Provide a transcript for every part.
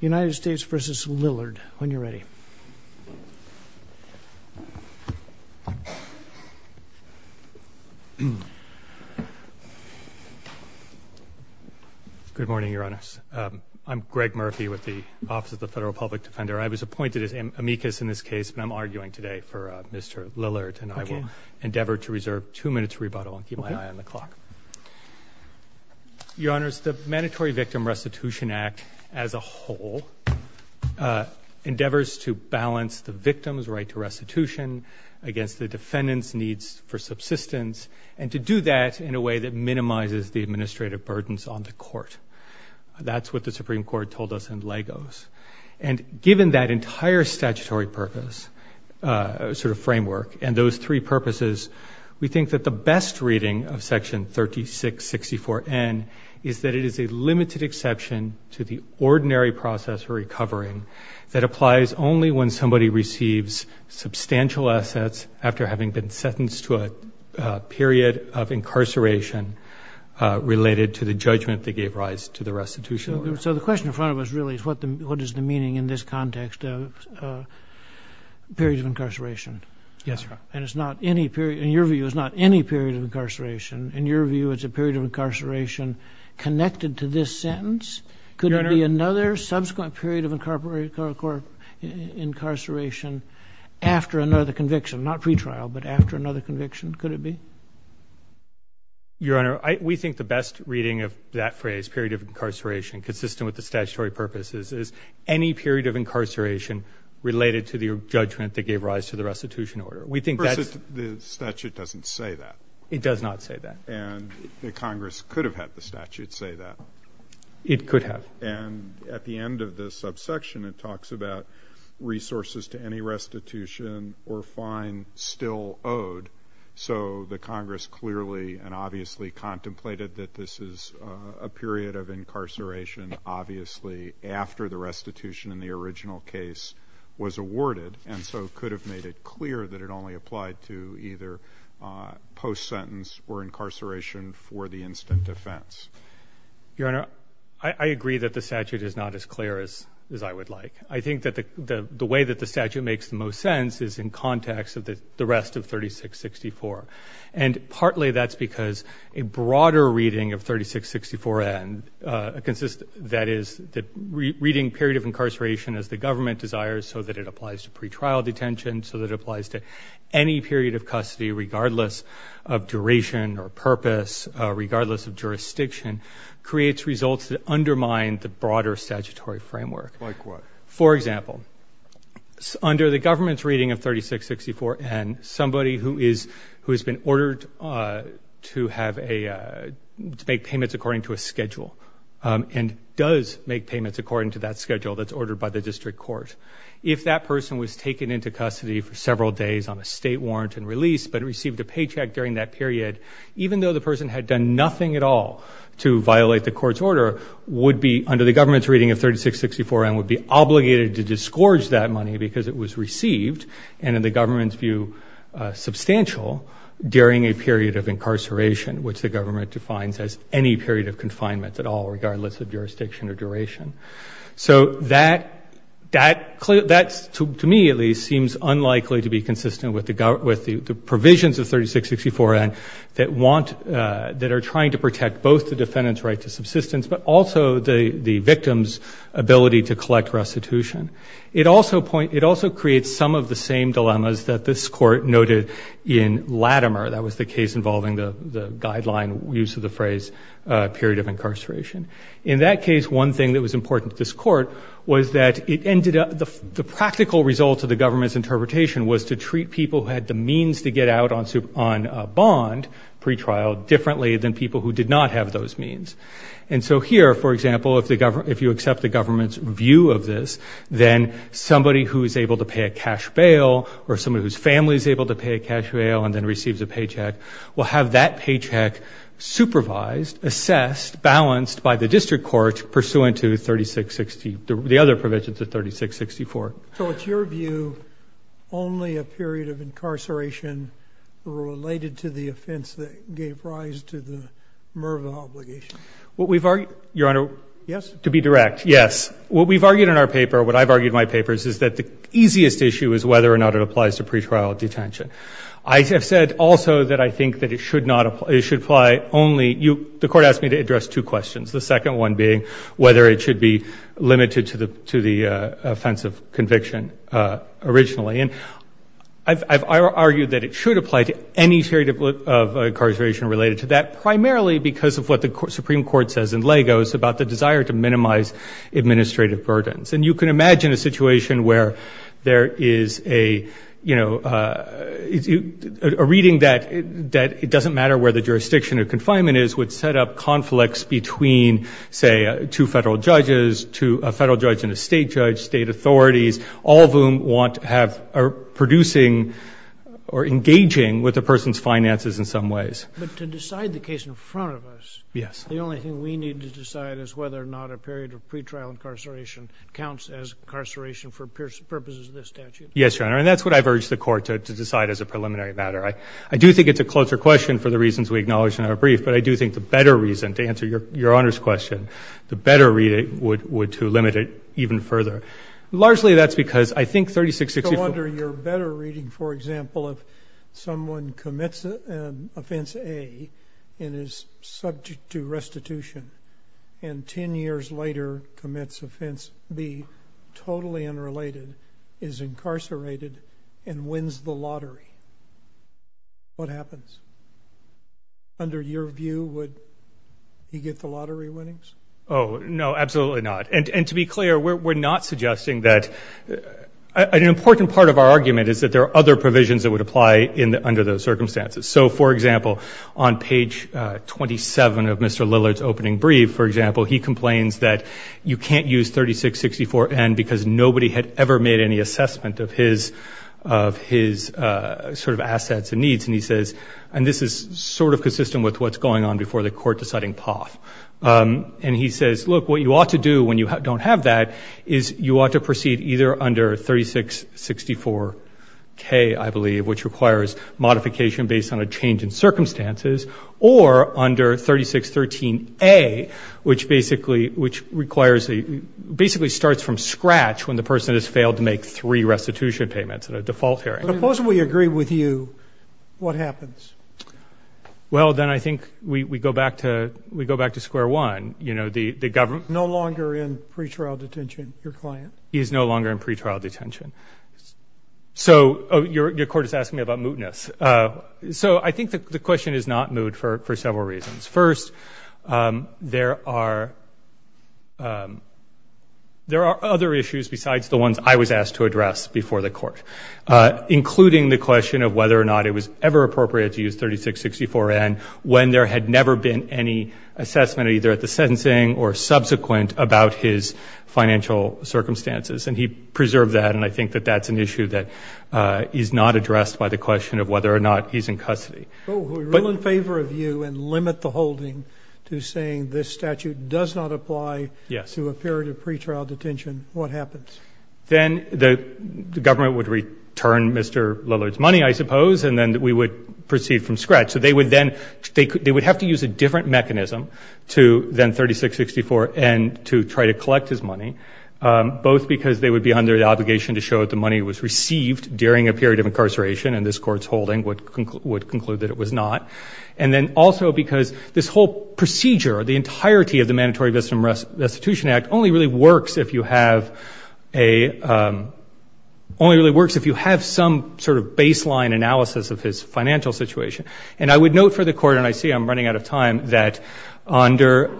United States v. Lillard, when you're ready. Good morning, Your Honors. I'm Greg Murphy with the Office of the Federal Public Defender. I was appointed as amicus in this case, but I'm arguing today for Mr. Lillard, and I will endeavor to reserve two minutes' rebuttal and keep my eye on the clock. Your Honors, the Mandatory Victim Restitution Act as a whole endeavors to balance the victim's right to restitution against the defendant's needs for subsistence, and to do that in a way that minimizes the administrative burdens on the court. That's what the Supreme Court told us in Lagos. And given that entire statutory purpose, sort of framework, and those three purposes, we think that the best reading of Section 3664N is that it is a limited exception to the ordinary process for recovering that applies only when somebody receives substantial assets after having been sentenced to a period of incarceration related to the judgment they gave rise to the restitution. So the question in front of us really is what is the meaning in this context of periods of incarceration? Yes, Your Honor. And it's not any period. In your view, it's not any period of incarceration. In your view, it's a period of incarceration connected to this sentence? Your Honor. Could it be another subsequent period of incarceration after another conviction, not pretrial, but after another conviction? Could it be? Your Honor, we think the best reading of that phrase, period of incarceration consistent with the statutory purposes, is any period of incarceration related to the judgment that gave rise to the restitution order. We think that's. The statute doesn't say that. It does not say that. And the Congress could have had the statute say that. It could have. And at the end of the subsection, it talks about resources to any restitution or fine still owed. So the Congress clearly and obviously contemplated that this is a period of incarceration, obviously, after the restitution in the original case was awarded, and so could have made it clear that it only applied to either post-sentence or incarceration for the instant offense. Your Honor, I agree that the statute is not as clear as I would like. I think that the way that the statute makes the most sense is in context of the rest of 3664. And partly that's because a broader reading of 3664N consists, that is, the reading period of incarceration as the government desires so that it applies to pretrial detention, so that it applies to any period of custody regardless of duration or purpose, regardless of jurisdiction, creates results that undermine the broader statutory framework. Like what? For example, under the government's reading of 3664N, somebody who has been ordered to make payments according to a schedule and does make payments according to that schedule that's ordered by the district court, if that person was taken into custody for several days on a state warrant and released but received a paycheck during that period, even though the person had done nothing at all to violate the court's order, would be, under the government's reading of 3664N, would be obligated to disgorge that money because it was received, and in the government's view, substantial, during a period of incarceration, which the government defines as any period of confinement at all, regardless of jurisdiction or duration. So that, to me at least, seems unlikely to be consistent with the provisions of 3664N that are trying to protect both the defendant's right to subsistence but also the victim's ability to collect restitution. It also creates some of the same dilemmas that this court noted in Latimer. That was the case involving the guideline, use of the phrase, period of incarceration. In that case, one thing that was important to this court was that the practical result of the government's interpretation was to treat people who had the means to get out on bond pretrial differently than people who did not have those means. And so here, for example, if you accept the government's view of this, then somebody who is able to pay a cash bail or somebody whose family is able to pay a cash bail and then receives a paycheck will have that paycheck supervised, assessed, balanced by the district court pursuant to 3660, the other provisions of 3664. So it's your view only a period of incarceration related to the offense that gave rise to the MERVA obligation? What we've argued, Your Honor. Yes? To be direct, yes. What we've argued in our paper, what I've argued in my papers, is that the easiest issue is whether or not it applies to pretrial detention. I have said also that I think that it should apply only you. The court asked me to address two questions, the second one being whether it should be limited to the offense of conviction originally. And I've argued that it should apply to any period of incarceration related to that, primarily because of what the Supreme Court says in Lagos about the desire to minimize administrative burdens. And you can imagine a situation where there is a, you know, a reading that it doesn't matter where the jurisdiction of confinement is, would set up conflicts between, say, two federal judges, a federal judge and a state judge, state authorities, all of whom want to have producing or engaging with the person's finances in some ways. But to decide the case in front of us, the only thing we need to decide is whether or not a period of pretrial incarceration counts as incarceration for purposes of this statute. Yes, Your Honor, and that's what I've urged the court to decide as a preliminary matter. I do think it's a closer question for the reasons we acknowledged in our brief, but I do think the better reason to answer Your Honor's question, the better reading would to limit it even further. Largely that's because I think 3664- So under your better reading, for example, if someone commits Offense A and is subject to restitution and ten years later commits Offense B, totally unrelated, is incarcerated and wins the lottery, what happens? Under your view, would he get the lottery winnings? Oh, no, absolutely not. And to be clear, we're not suggesting that. An important part of our argument is that there are other provisions that would apply under those circumstances. So, for example, on page 27 of Mr. Lillard's opening brief, for example, he complains that you can't use 3664-N because nobody had ever made any assessment of his sort of assets and needs, and he says, and this is sort of consistent with what's going on before the court deciding POTH. And he says, look, what you ought to do when you don't have that is you ought to proceed either under 3664-K, I believe, which requires modification based on a change in circumstances, or under 3613-A, which basically starts from scratch when the person has failed to make three restitution payments in a default hearing. Suppose we agree with you. What happens? Well, then I think we go back to square one. No longer in pretrial detention, your client. He is no longer in pretrial detention. So your court is asking me about mootness. So I think the question is not moot for several reasons. First, there are other issues besides the ones I was asked to address before the court, including the question of whether or not it was ever appropriate to use 3664-N when there had never been any assessment either at the sentencing or subsequent about his financial circumstances. And he preserved that, and I think that that's an issue that is not addressed by the question of whether or not he's in custody. If we rule in favor of you and limit the holding to saying this statute does not apply to a period of pretrial detention, what happens? Then the government would return Mr. Lillard's money, I suppose, and then we would proceed from scratch. So they would then have to use a different mechanism than 3664-N to try to collect his money, both because they would be under the obligation to show that the money was received during a period of incarceration, and this Court's holding would conclude that it was not, and then also because this whole procedure, the entirety of the Mandatory Victim Restitution Act, only really works if you have some sort of baseline analysis of his financial situation. And I would note for the Court, and I see I'm running out of time, that Mr.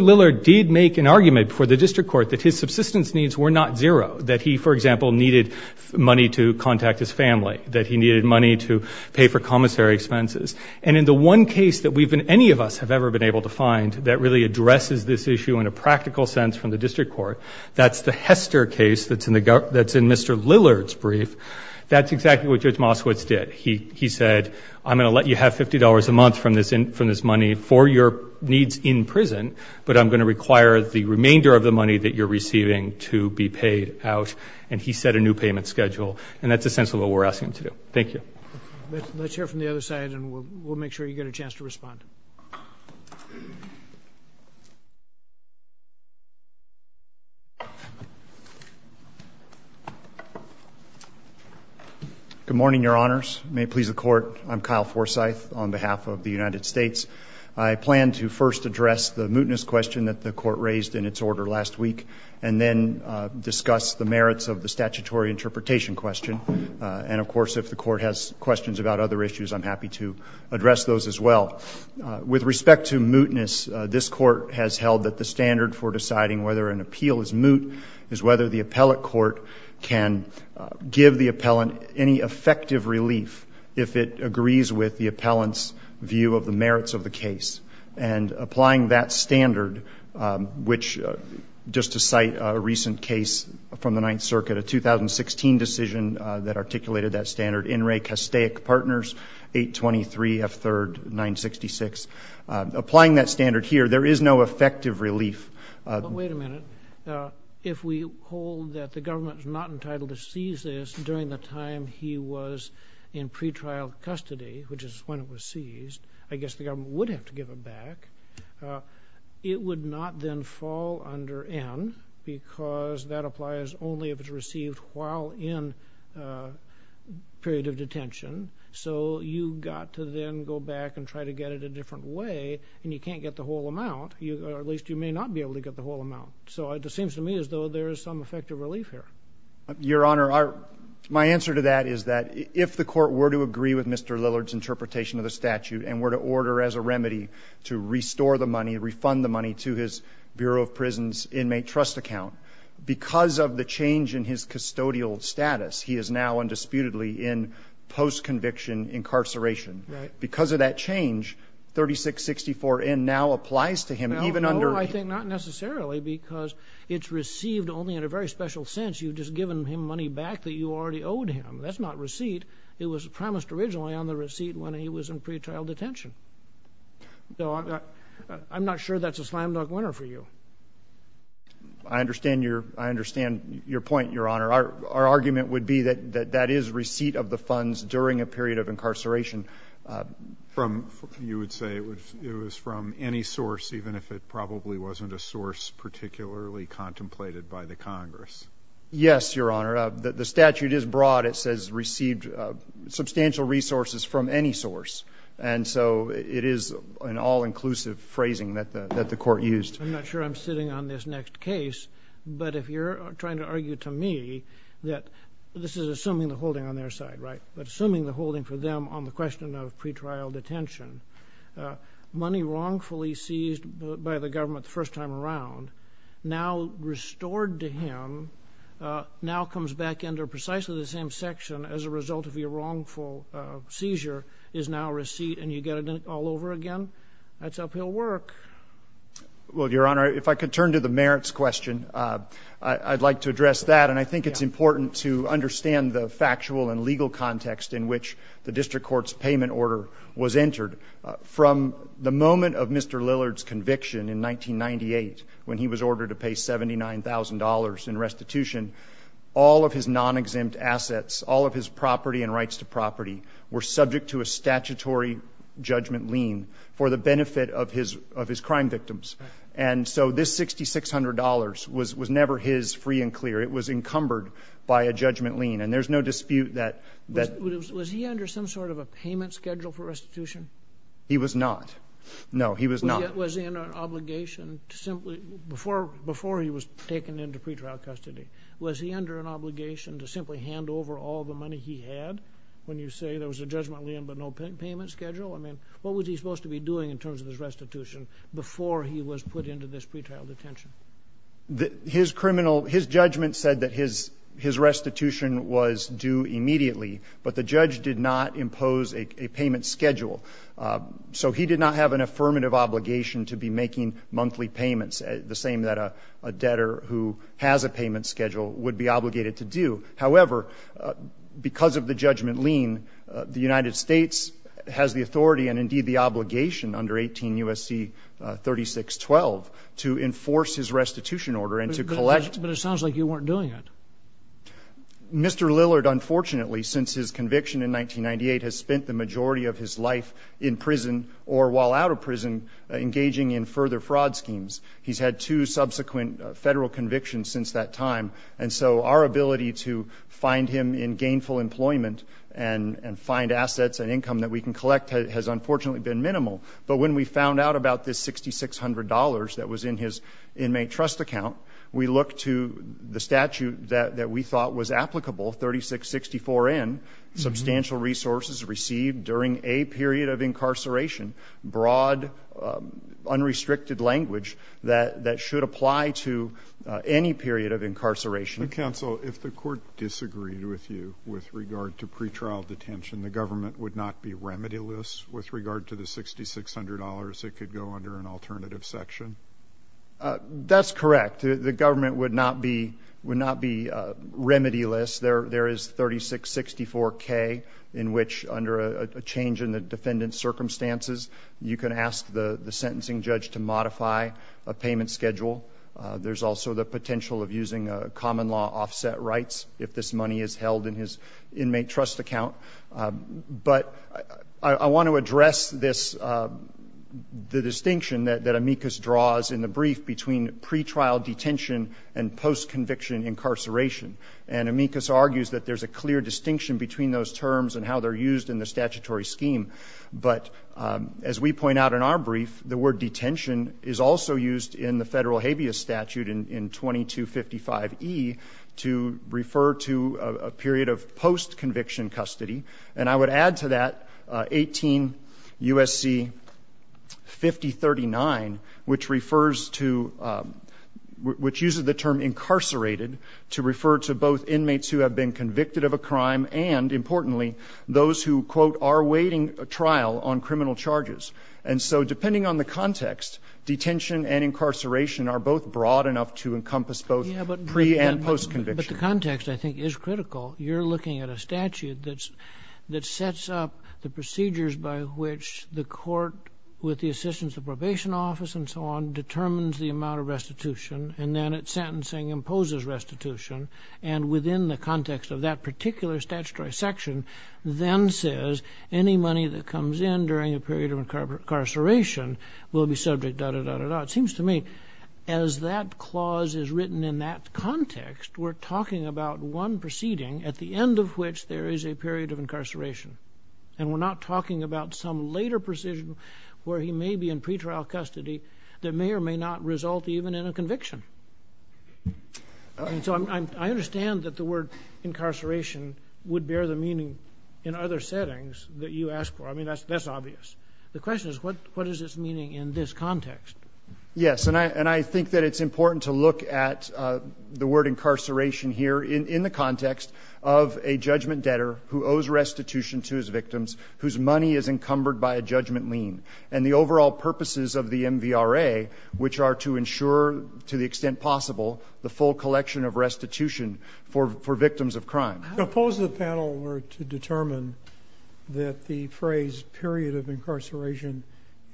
Lillard did make an argument before the district court that his subsistence needs were not zero, that he, for example, needed money to contact his family, that he needed money to pay for commissary expenses. And in the one case that any of us have ever been able to find that really addresses this issue in a practical sense from the district court, that's the Hester case that's in Mr. Lillard's brief, that's exactly what Judge Moskowitz did. He said, I'm going to let you have $50 a month from this money for your needs in prison, but I'm going to require the remainder of the money that you're receiving to be paid out. And he set a new payment schedule, and that's essentially what we're asking him to do. Thank you. Let's hear from the other side, and we'll make sure you get a chance to respond. Good morning, Your Honors. May it please the Court. I'm Kyle Forsyth on behalf of the United States. I plan to first address the mootness question that the Court raised in its order last week, and then discuss the merits of the statutory interpretation question. And, of course, if the Court has questions about other issues, I'm happy to address those as well. With respect to mootness, this Court has held that the standard for deciding whether an appeal is moot is whether the appellate court can give the appellant any effective relief if it agrees with the appellant's view of the merits of the case. And applying that standard, which, just to cite a recent case from the Ninth Circuit, a 2016 decision that articulated that standard, In Re Castaic Partners, 823 F3rd 966. Applying that standard here, there is no effective relief. But wait a minute. If we hold that the government is not entitled to seize this during the time he was in pretrial custody, which is when it was seized, I guess the government would have to give it back. It would not then fall under N because that applies only if it's received while in period of detention. So you've got to then go back and try to get it a different way, and you can't get the whole amount. Or at least you may not be able to get the whole amount. So it seems to me as though there is some effective relief here. Your Honor, my answer to that is that if the Court were to agree with Mr. Lillard's interpretation of the statute and were to order as a remedy to restore the money, refund the money to his Bureau of Prisons Inmate Trust Account, because of the change in his custodial status, he is now undisputedly in post-conviction incarceration. Because of that change, 3664 N now applies to him even under— No, I think not necessarily because it's received only in a very special sense. You've just given him money back that you already owed him. That's not receipt. It was promised originally on the receipt when he was in pretrial detention. So I'm not sure that's a slam-dunk winner for you. I understand your point, Your Honor. Our argument would be that that is receipt of the funds during a period of incarceration. You would say it was from any source, even if it probably wasn't a source particularly contemplated by the Congress. Yes, Your Honor. The statute is broad. It says received substantial resources from any source. And so it is an all-inclusive phrasing that the Court used. I'm not sure I'm sitting on this next case. But if you're trying to argue to me that this is assuming the holding on their side, right, but assuming the holding for them on the question of pretrial detention, money wrongfully seized by the government the first time around now restored to him now comes back under precisely the same section as a result of your wrongful seizure is now receipt and you get it all over again, that's uphill work. Well, Your Honor, if I could turn to the merits question, I'd like to address that. And I think it's important to understand the factual and legal context in which the district court's payment order was entered. From the moment of Mr. Lillard's conviction in 1998 when he was ordered to pay $79,000 in restitution, all of his non-exempt assets, all of his property and rights to property, were subject to a statutory judgment lien for the benefit of his crime victims. And so this $6,600 was never his free and clear. It was encumbered by a judgment lien. And there's no dispute that that was he under some sort of a payment schedule for restitution? He was not. No, he was not. Was he under an obligation to simply, before he was taken into pretrial custody, was he under an obligation to simply hand over all the money he had? When you say there was a judgment lien but no payment schedule? I mean, what was he supposed to be doing in terms of his restitution before he was put into this pretrial detention? His criminal, his judgment said that his restitution was due immediately, but the judge did not impose a payment schedule. So he did not have an affirmative obligation to be making monthly payments, the same that a debtor who has a payment schedule would be obligated to do. However, because of the judgment lien, the United States has the authority and indeed the obligation under 18 U.S.C. 3612 to enforce his restitution order and to collect. But it sounds like you weren't doing it. Mr. Lillard, unfortunately, since his conviction in 1998, has spent the majority of his life in prison or while out of prison engaging in further fraud schemes. He's had two subsequent Federal convictions since that time. And so our ability to find him in gainful employment and find assets and income that we can collect has unfortunately been minimal. But when we found out about this $6,600 that was in his inmate trust account, we looked to the statute that we thought was applicable, 3664N, substantial resources received during a period of incarceration, broad unrestricted language that should apply to any period of incarceration. The counsel, if the court disagreed with you with regard to pretrial detention, the government would not be remedialist with regard to the $6,600 that could go under an alternative section? That's correct. The government would not be remedialist. There is 3664K in which, under a change in the defendant's circumstances, you can ask the sentencing judge to modify a payment schedule. There's also the potential of using a common law offset rights if this money is held in his inmate trust account. But I want to address this, the distinction that amicus draws in the brief between pretrial detention and post-conviction incarceration. And amicus argues that there's a clear distinction between those terms and how they're used in the statutory scheme. But as we point out in our brief, the word detention is also used in the federal habeas statute in 2255E to refer to a period of post-conviction custody. And I would add to that 18 U.S.C. 5039, which refers to, which uses the term incarcerated to refer to both inmates who have been convicted of a crime and, importantly, those who, quote, are awaiting trial on criminal charges. And so depending on the context, detention and incarceration are both broad enough to encompass both pre and post-conviction. But the context, I think, is critical. You're looking at a statute that sets up the procedures by which the court, with the assistance of the probation office and so on, determines the amount of restitution and then at sentencing imposes restitution and within the context of that particular statutory section then says any money that comes in during a period of incarceration will be subject, da-da-da-da-da. Now, it seems to me as that clause is written in that context, we're talking about one proceeding at the end of which there is a period of incarceration. And we're not talking about some later precision where he may be in pretrial custody that may or may not result even in a conviction. And so I understand that the word incarceration would bear the meaning in other settings that you asked for. I mean, that's obvious. The question is what is its meaning in this context? Yes, and I think that it's important to look at the word incarceration here in the context of a judgment debtor who owes restitution to his victims whose money is encumbered by a judgment lien and the overall purposes of the MVRA, which are to ensure, to the extent possible, the full collection of restitution for victims of crime. Suppose the panel were to determine that the phrase period of incarceration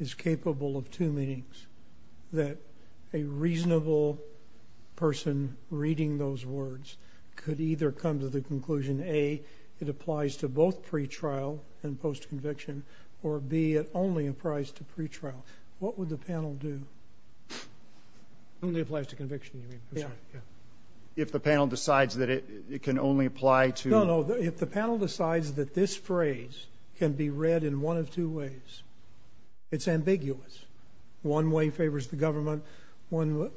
is capable of two meanings, that a reasonable person reading those words could either come to the conclusion, A, it applies to both pretrial and post-conviction, or B, it only applies to pretrial. What would the panel do? Only applies to conviction, you mean? Yeah. If the panel decides that it can only apply to... No, no, if the panel decides that this phrase can be read in one of two ways, it's ambiguous. One way favors the government, one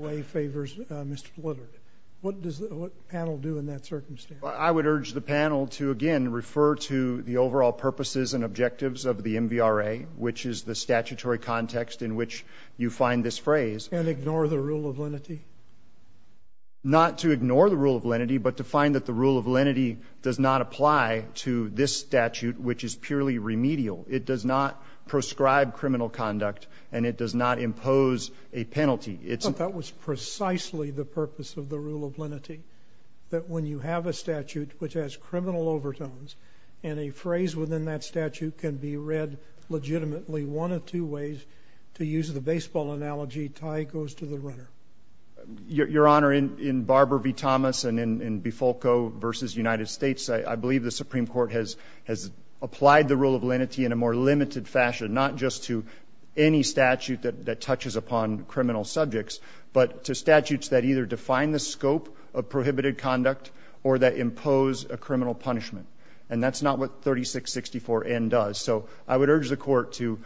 way favors Mr. Blither. What does the panel do in that circumstance? I would urge the panel to, again, refer to the overall purposes and objectives of the MVRA, which is the statutory context in which you find this phrase. And ignore the rule of lenity? Not to ignore the rule of lenity, but to find that the rule of lenity does not apply to this statute, which is purely remedial. It does not prescribe criminal conduct, and it does not impose a penalty. But that was precisely the purpose of the rule of lenity, that when you have a statute which has criminal overtones, and a phrase within that statute can be read legitimately one of two ways, to use the baseball analogy, tie goes to the runner. Your Honor, in Barber v. Thomas and in Bifolco v. United States, I believe the Supreme Court has applied the rule of lenity in a more limited fashion, not just to any statute that touches upon criminal subjects, but to statutes that either define the scope of prohibited conduct or that impose a criminal punishment. And that's not what 3664N does. So I would urge the Court to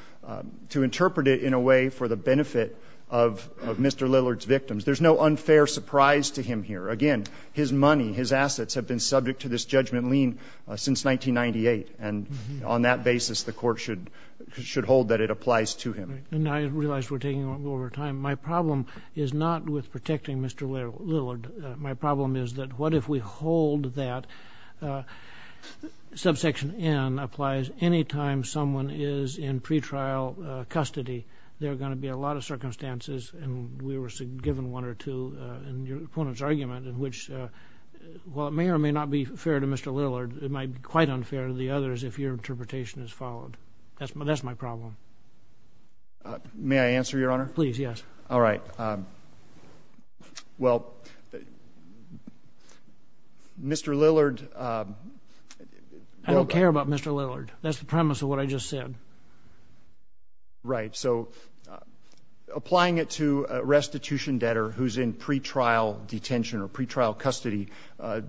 interpret it in a way for the benefit of Mr. Lillard's victims. There's no unfair surprise to him here. Again, his money, his assets, have been subject to this judgment lien since 1998. And on that basis, the Court should hold that it applies to him. And I realize we're taking over time. My problem is not with protecting Mr. Lillard. My problem is that what if we hold that subsection N applies any time someone is in pretrial custody, there are going to be a lot of circumstances and we were given one or two in your opponent's argument in which while it may or may not be fair to Mr. Lillard, it might be quite unfair to the others if your interpretation is followed. That's my problem. May I answer, Your Honor? Please, yes. All right. Well, Mr. Lillard... I don't care about Mr. Lillard. That's the premise of what I just said. Right. So applying it to a restitution debtor who's in pretrial detention or pretrial custody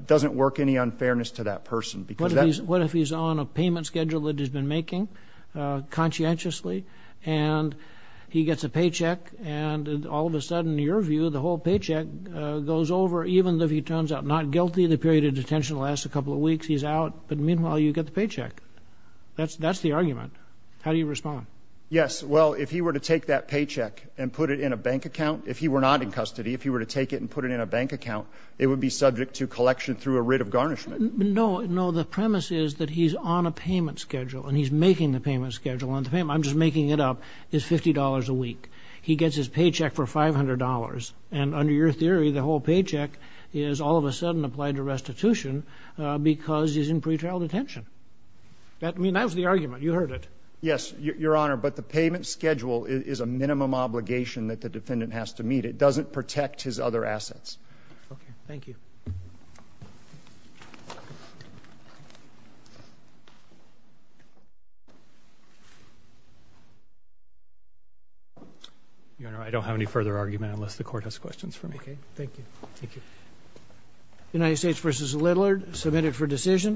doesn't work any unfairness to that person. What if he's on a payment schedule that he's been making conscientiously and he gets a paycheck and all of a sudden, in your view, the whole paycheck goes over even if he turns out not guilty. The period of detention lasts a couple of weeks. He's out, but meanwhile, you get the paycheck. That's the argument. How do you respond? Yes, well, if he were to take that paycheck and put it in a bank account, if he were not in custody, if he were to take it and put it in a bank account, it would be subject to collection through a writ of garnishment. No, no. The premise is that he's on a payment schedule and he's making the payment schedule. I'm just making it up. It's $50 a week. He gets his paycheck for $500 and under your theory, the whole paycheck is all of a sudden applied to restitution because he's in pretrial detention. That was the argument. You heard it. Yes, Your Honor, but the payment schedule is a minimum obligation that the defendant has to meet. It doesn't protect his other assets. Okay, thank you. Your Honor, I don't have any further argument unless the court has questions for me. Okay, thank you. Thank you. United States v. Lidler, submitted for decision.